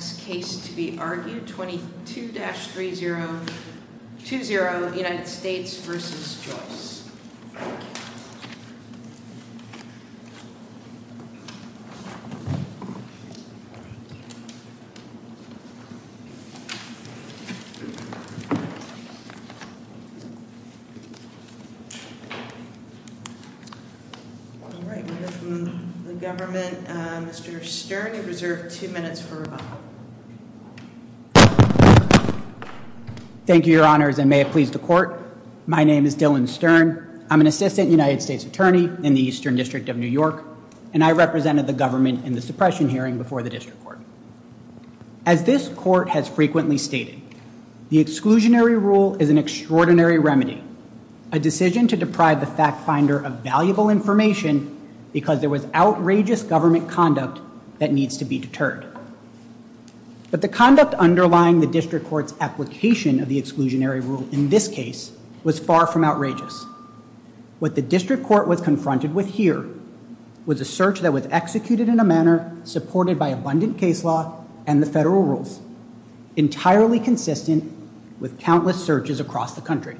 All right, we have from the government, Mr. Stern, you're reserved two minutes for rebuttal. Thank you, your honors, and may it please the court. My name is Dylan Stern. I'm an assistant United States attorney in the Eastern District of New York, and I represented the government in the suppression hearing before the district court. As this court has frequently stated, the exclusionary rule is an extraordinary remedy, a decision to deprive the fact finder of valuable information because there was outrageous government conduct that needs to be deterred. But the conduct underlying the district court's application of the exclusionary rule in this case was far from outrageous. What the district court was confronted with here was a search that was executed in a manner supported by abundant case law and the federal rules, entirely consistent with countless searches across the country.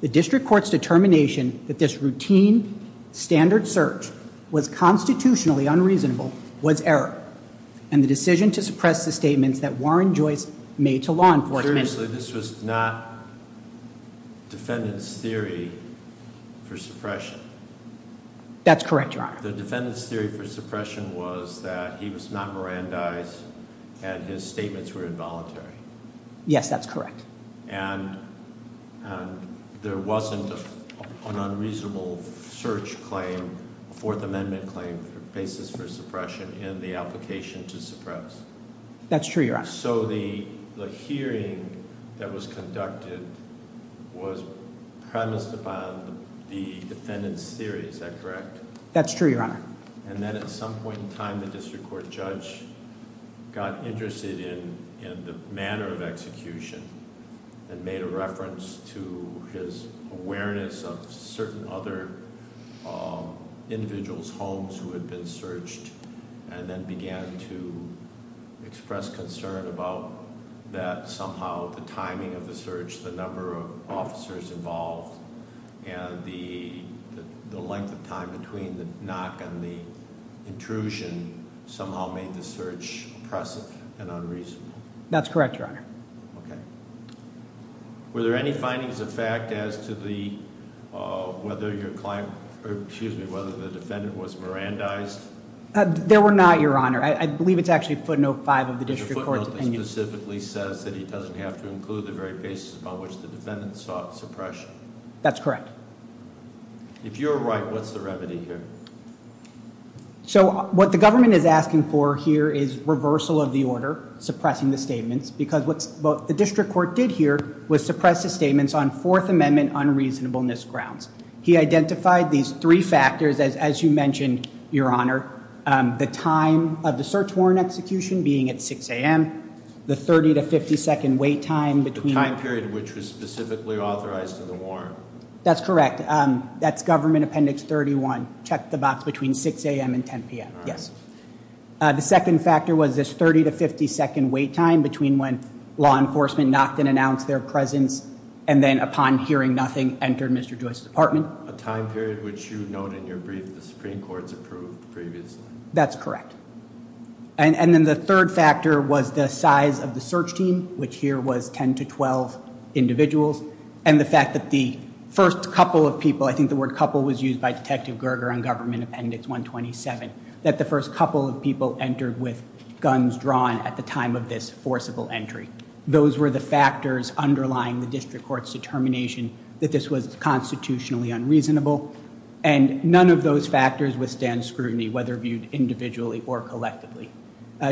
The district court's determination that this routine standard search was constitutionally unreasonable was error and the decision to suppress the statements that Warren Joyce made to law enforcement. This was not defendants theory for suppression. That's correct. The defendants theory for suppression was that he was not Miran dies and his statements were involuntary. Yes, that's correct. And there wasn't an unreasonable search claim, a Fourth Amendment claim for basis for suppression in the application to suppress. That's true, Your Honor. So the hearing that was conducted was premised upon the defendants theory, is that correct? That's true, Your Honor. And then at some point in time, the district court judge got interested in the manner of execution and made a reference to his awareness of certain other individuals' homes who had been searched and then began to express concern about that somehow the timing of the search, the number of officers involved, and the length of time between the knock and the intrusion somehow made the search oppressive and unreasonable. That's correct, Your Honor. Were there any findings of fact as to whether the defendant was Miran dies? There were not, Your Honor. I believe it's actually footnote five of the district court's opinion. The footnote specifically says that he doesn't have to include the very basis upon which the defendant sought suppression. That's correct. If you're right, what's the remedy here? So what the government is asking for here is reversal of the order, suppressing the statements, because what the district court did here was suppress the statements on Fourth Amendment unreasonableness grounds. He identified these three factors, as you mentioned, Your Honor, the time of the search warrant execution being at 6 a.m., the 30 to 50 second wait time. The time period which was specifically authorized to the warrant. That's correct. That's Government Appendix 31. Check the box between 6 a.m. and 10 p.m. Yes. The second factor was this 30 to 50 second wait time between when law enforcement knocked and announced their presence and then upon hearing nothing entered Mr. Joyce's apartment. A time period which you note in your brief the Supreme Court's approved previously. That's correct. And then the third factor was the size of the search team, which here was 10 to 12 individuals. And the fact that the first couple of people, I think the word couple was used by Detective Gerger on Government Appendix 127, that the first couple of people entered with guns drawn at the time of this forcible entry. Those were the factors underlying the district court's determination that this was constitutionally unreasonable. And none of those factors withstand scrutiny, whether viewed individually or collectively.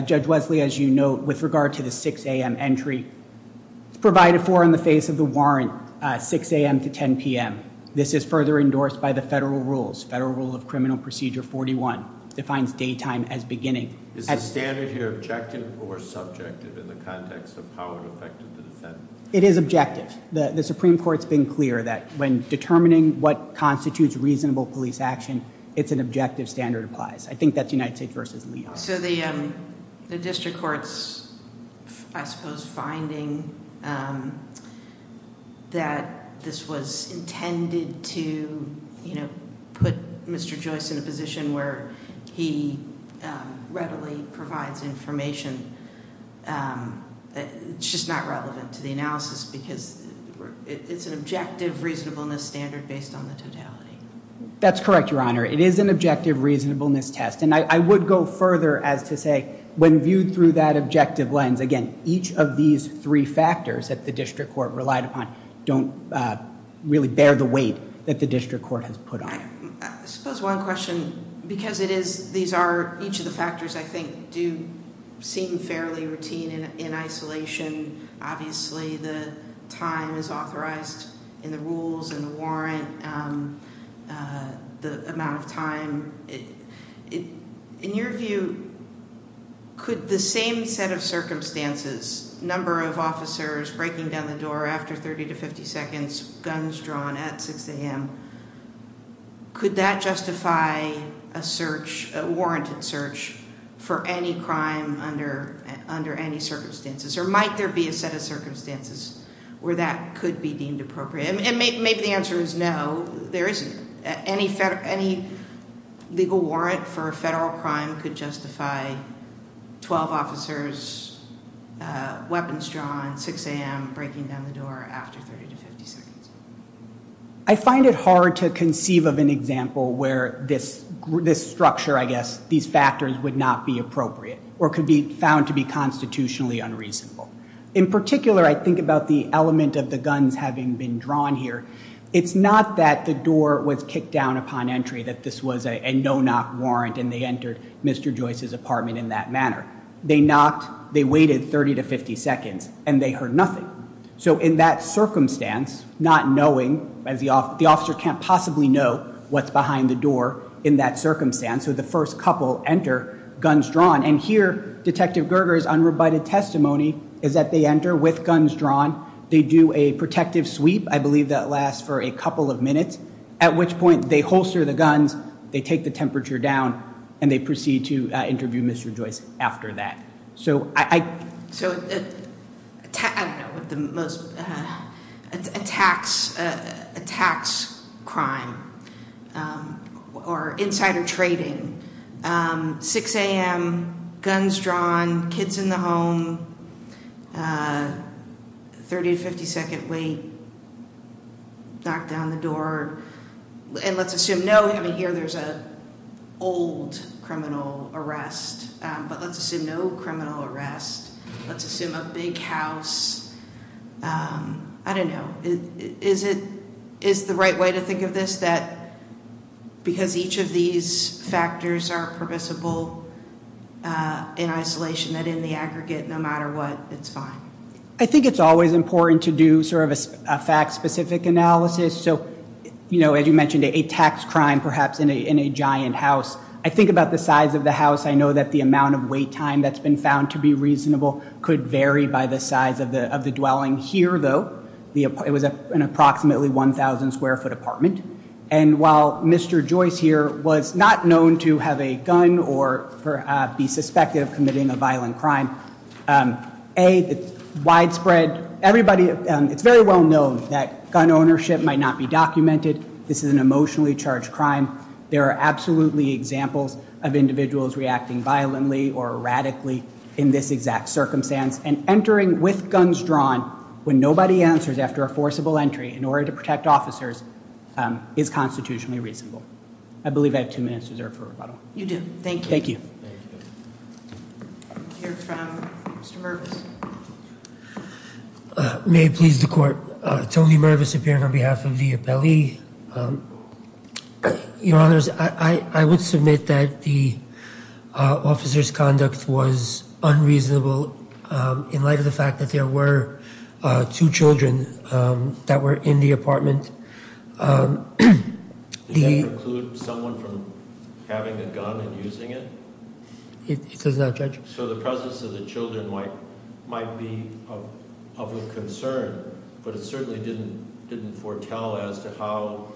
Judge Wesley, as you note, with regard to the 6 a.m. entry, provided for in the face of the warrant, 6 a.m. to 10 p.m. This is further endorsed by the federal rules. Federal Rule of Criminal Procedure 41 defines daytime as beginning. Is the standard here objective or subjective in the context of how it affected the defendant? It is objective. The Supreme Court's been clear that when determining what constitutes reasonable police action, it's an objective standard applies. So the district court's, I suppose, finding that this was intended to put Mr. Joyce in a position where he readily provides information, it's just not relevant to the analysis because it's an objective reasonableness standard based on the totality. That's correct, Your Honor. It is an objective reasonableness test. And I would go further as to say when viewed through that objective lens, again, each of these three factors that the district court relied upon don't really bear the weight that the district court has put on it. I suppose one question, because it is, these are, each of the factors, I think, do seem fairly routine in isolation. Obviously the time is authorized in the rules and the warrant, the amount of time. In your view, could the same set of circumstances, number of officers breaking down the door after 30 to 50 seconds, guns drawn at 6 a.m., could that justify a warranted search for any crime under any circumstances? Or might there be a set of circumstances where that could be deemed appropriate? And maybe the answer is no, there isn't. Any legal warrant for a federal crime could justify 12 officers, weapons drawn, 6 a.m., breaking down the door after 30 to 50 seconds. I find it hard to conceive of an example where this structure, I guess, these factors, would not be appropriate or could be found to be constitutionally unreasonable. In particular, I think about the element of the guns having been drawn here. It's not that the door was kicked down upon entry, that this was a no-knock warrant and they entered Mr. Joyce's apartment in that manner. They knocked, they waited 30 to 50 seconds, and they heard nothing. So in that circumstance, not knowing, the officer can't possibly know what's behind the door in that circumstance. So the first couple enter, guns drawn. And here, Detective Gerger's unrebutted testimony is that they enter with guns drawn. They do a protective sweep. I believe that lasts for a couple of minutes, at which point they holster the guns, they take the temperature down, and they proceed to interview Mr. Joyce after that. So I don't know what the most, a tax crime or insider trading, 6 a.m., guns drawn, kids in the home, 30 to 50 second wait, knock down the door, and let's assume no, I mean, here there's an old criminal arrest, let's assume a big house. I don't know. Is the right way to think of this that because each of these factors are permissible in isolation, that in the aggregate, no matter what, it's fine? I think it's always important to do sort of a fact-specific analysis. So as you mentioned, a tax crime perhaps in a giant house. I think about the size of the house. I know that the amount of wait time that's been found to be reasonable could vary by the size of the dwelling. Here, though, it was an approximately 1,000 square foot apartment. And while Mr. Joyce here was not known to have a gun or be suspected of committing a violent crime, A, it's widespread. Everybody, it's very well known that gun ownership might not be documented. This is an emotionally charged crime. There are absolutely examples of individuals reacting violently or erratically in this exact circumstance, and entering with guns drawn when nobody answers after a forcible entry in order to protect officers is constitutionally reasonable. I believe I have two minutes reserved for rebuttal. You do. Thank you. Thank you. We'll hear from Mr. Mervis. May it please the Court. Tony Mervis appearing on behalf of the appellee. Your Honors, I would submit that the officer's conduct was unreasonable in light of the fact that there were two children that were in the apartment. Does that preclude someone from having a gun and using it? It does not, Judge. So the presence of the children might be of concern, but it certainly didn't foretell as to how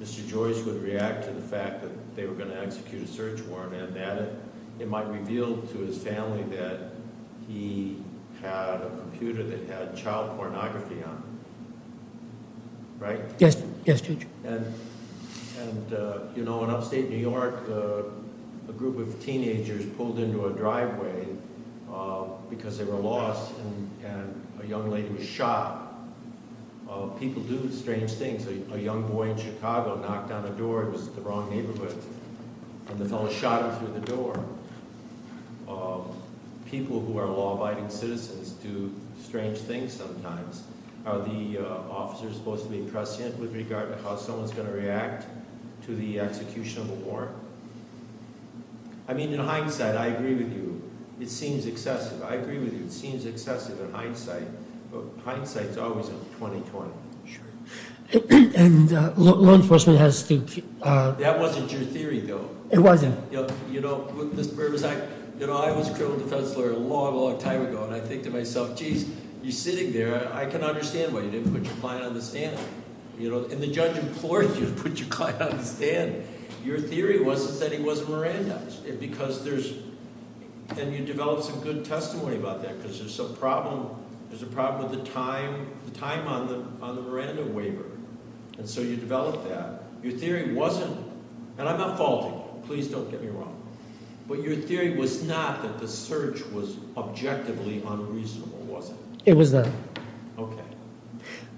Mr. Joyce would react to the fact that they were going to execute a search warrant and that it might reveal to his family that he had a computer that had child pornography on it, right? Yes, Judge. And, you know, in upstate New York, a group of teenagers pulled into a driveway because they were lost, and a young lady was shot. People do strange things. A young boy in Chicago knocked on the door. It was the wrong neighborhood, and the fellow shot him through the door. People who are law-abiding citizens do strange things sometimes. Are the officers supposed to be prescient with regard to how someone's going to react to the execution of a warrant? I mean, in hindsight, I agree with you. It seems excessive. I agree with you. It seems excessive in hindsight, but hindsight's always in 2020. Sure. And law enforcement has to keep— That wasn't your theory, though. It wasn't. You know, Mr. Berges, I was a criminal defense lawyer a long, long time ago, and I think to myself, geez, you're sitting there. I can understand why you didn't put your client on the stand. You know, and the judge implored you to put your client on the stand. Your theory was that he was a Miranda because there's—and you developed some good testimony about that because there's a problem with the time on the Miranda waiver, and so you developed that. Your theory wasn't—and I'm not faulting you. Please don't get me wrong. But your theory was not that the search was objectively unreasonable, was it? It was not. Okay.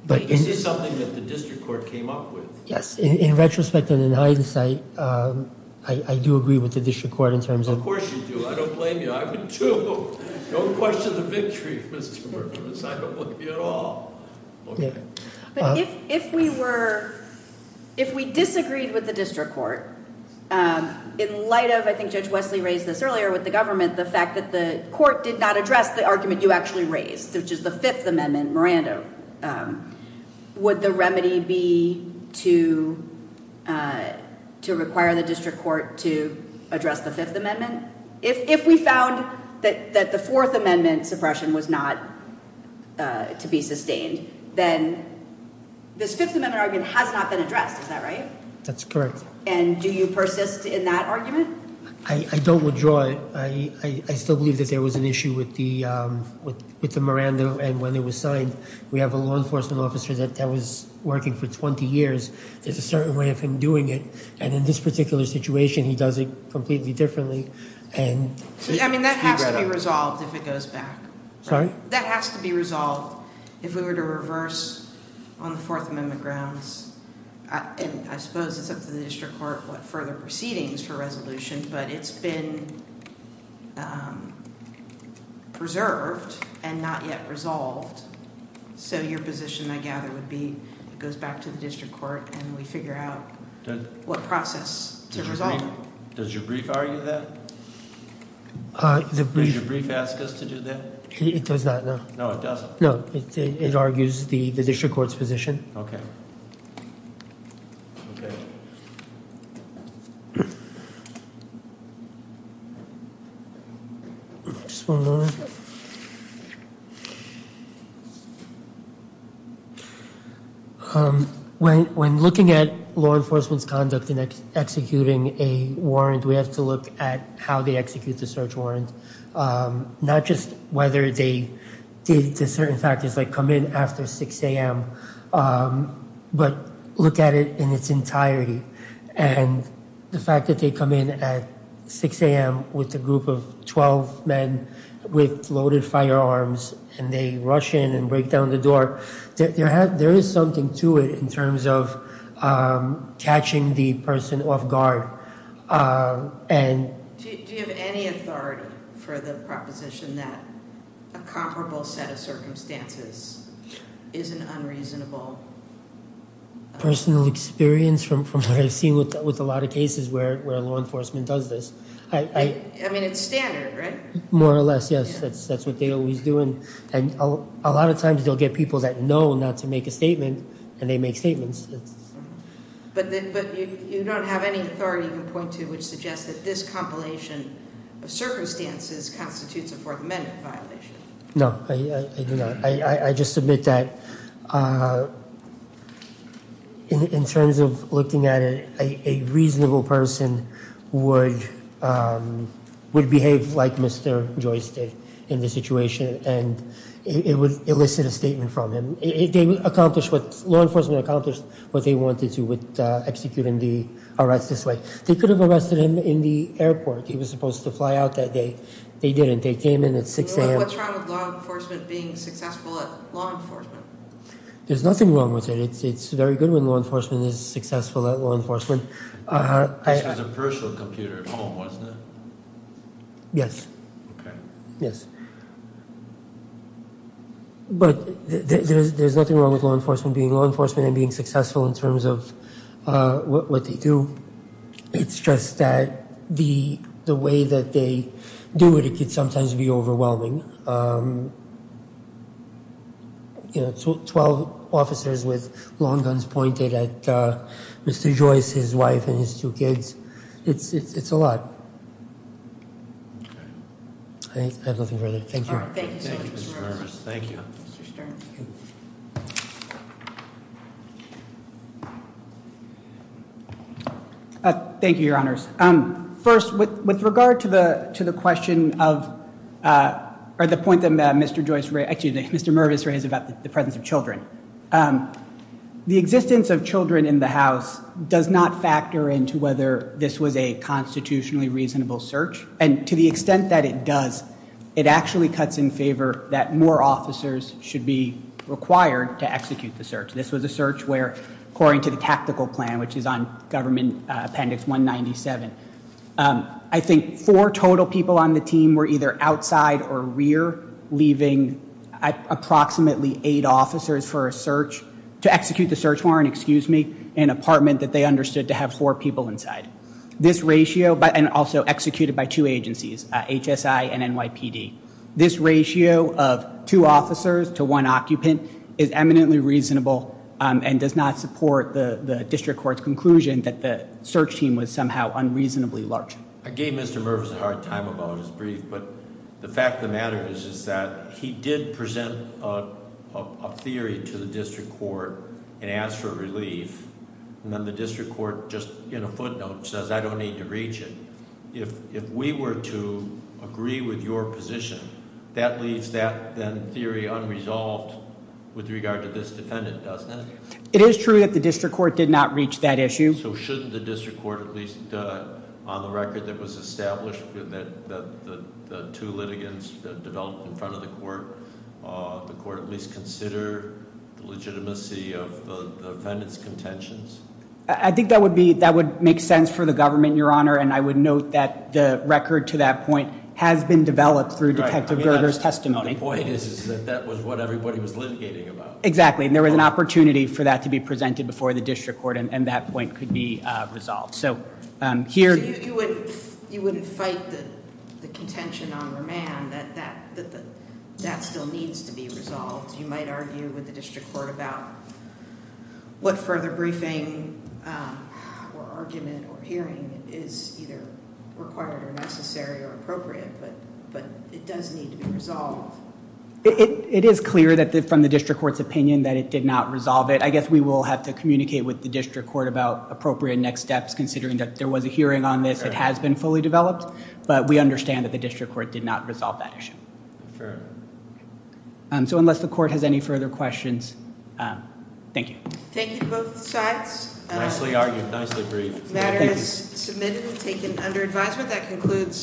But this is something that the district court came up with. Yes. In retrospect and in hindsight, I do agree with the district court in terms of— Of course you do. I don't blame you. I would, too. Don't question the victory, Mr. Berges. I don't blame you at all. Okay. But if we were—if we disagreed with the district court in light of, I think Judge Wesley raised this earlier, with the government, the fact that the court did not address the argument you actually raised, which is the Fifth Amendment, Miranda, would the remedy be to require the district court to address the Fifth Amendment? And if we found that the Fourth Amendment suppression was not to be sustained, then this Fifth Amendment argument has not been addressed. Is that right? That's correct. And do you persist in that argument? I don't withdraw it. I still believe that there was an issue with the Miranda. And when it was signed, we have a law enforcement officer that was working for 20 years. There's a certain way of him doing it. And in this particular situation, he does it completely differently. I mean, that has to be resolved if it goes back. Sorry? That has to be resolved if we were to reverse on the Fourth Amendment grounds. And I suppose it's up to the district court what further proceedings for resolution, but it's been preserved and not yet resolved. So your position, I gather, would be it goes back to the district court and we figure out what process to resolve it. Does your brief argue that? Does your brief ask us to do that? It does not, no. No, it doesn't. No, it argues the district court's position. Okay. Okay. Okay. Just one moment. When looking at law enforcement's conduct in executing a warrant, we have to look at how they execute the search warrant, not just whether they did certain factors like come in after 6 a.m., but look at it in its entirety. And the fact that they come in at 6 a.m. with a group of 12 men with loaded firearms, and they rush in and break down the door, there is something to it in terms of catching the person off guard. Do you have any authority for the proposition that a comparable set of circumstances is an unreasonable? Personal experience from what I've seen with a lot of cases where law enforcement does this. I mean, it's standard, right? More or less, yes. That's what they always do. And a lot of times they'll get people that know not to make a statement, and they make statements. But you don't have any authority to point to which suggests that this compilation of circumstances constitutes a Fourth Amendment violation. No, I do not. I just submit that in terms of looking at it, a reasonable person would behave like Mr. Joystick in this situation, and it would elicit a statement from him. Law enforcement accomplished what they wanted to with executing the arrest this way. They could have arrested him in the airport. He was supposed to fly out that day. They didn't. They came in at 6 a.m. What's wrong with law enforcement being successful at law enforcement? There's nothing wrong with it. It's very good when law enforcement is successful at law enforcement. This was a personal computer at home, wasn't it? Yes. Okay. Yes. But there's nothing wrong with law enforcement being law enforcement and being successful in terms of what they do. It's just that the way that they do it, it can sometimes be overwhelming. You know, 12 officers with long guns pointed at Mr. Joyce, his wife, and his two kids. It's a lot. I have nothing further. Thank you. Thank you, Mr. Mervis. Thank you. Mr. Stern. Thank you, Your Honors. First, with regard to the question of, or the point that Mr. Joyce raised, excuse me, Mr. Mervis raised about the presence of children, the existence of children in the house does not factor into whether this was a constitutionally reasonable search, and to the extent that it does, it actually cuts in favor that more officers should be required to execute the search. This was a search where, according to the tactical plan, which is on Government Appendix 197, I think four total people on the team were either outside or rear, leaving approximately eight officers for a search to execute the search warrant, excuse me, in an apartment that they understood to have four people inside. This ratio, and also executed by two agencies, HSI and NYPD, this ratio of two officers to one occupant is eminently reasonable and does not support the district court's conclusion that the search team was somehow unreasonably large. I gave Mr. Mervis a hard time about his brief, but the fact of the matter is that he did present a theory to the district court and asked for relief, and then the district court, just in a footnote, says I don't need to reach it. If we were to agree with your position, that leaves that theory unresolved with regard to this defendant, doesn't it? It is true that the district court did not reach that issue. So shouldn't the district court at least, on the record that was established, that the two litigants that developed in front of the court, the court at least consider the legitimacy of the defendant's contentions? I think that would make sense for the government, your honor, and I would note that the record to that point has been developed through Detective Gerger's testimony. The point is that that was what everybody was litigating about. Exactly, and there was an opportunity for that to be presented before the district court, and that point could be resolved. You wouldn't fight the contention on remand that that still needs to be resolved. You might argue with the district court about what further briefing or argument or hearing is either required or necessary or appropriate, but it does need to be resolved. It is clear from the district court's opinion that it did not resolve it. I guess we will have to communicate with the district court about appropriate next steps, considering that there was a hearing on this, it has been fully developed, but we understand that the district court did not resolve that issue. So unless the court has any further questions, thank you. Thank you to both sides. Nicely argued, nicely briefed. The matter is submitted and taken under advisement.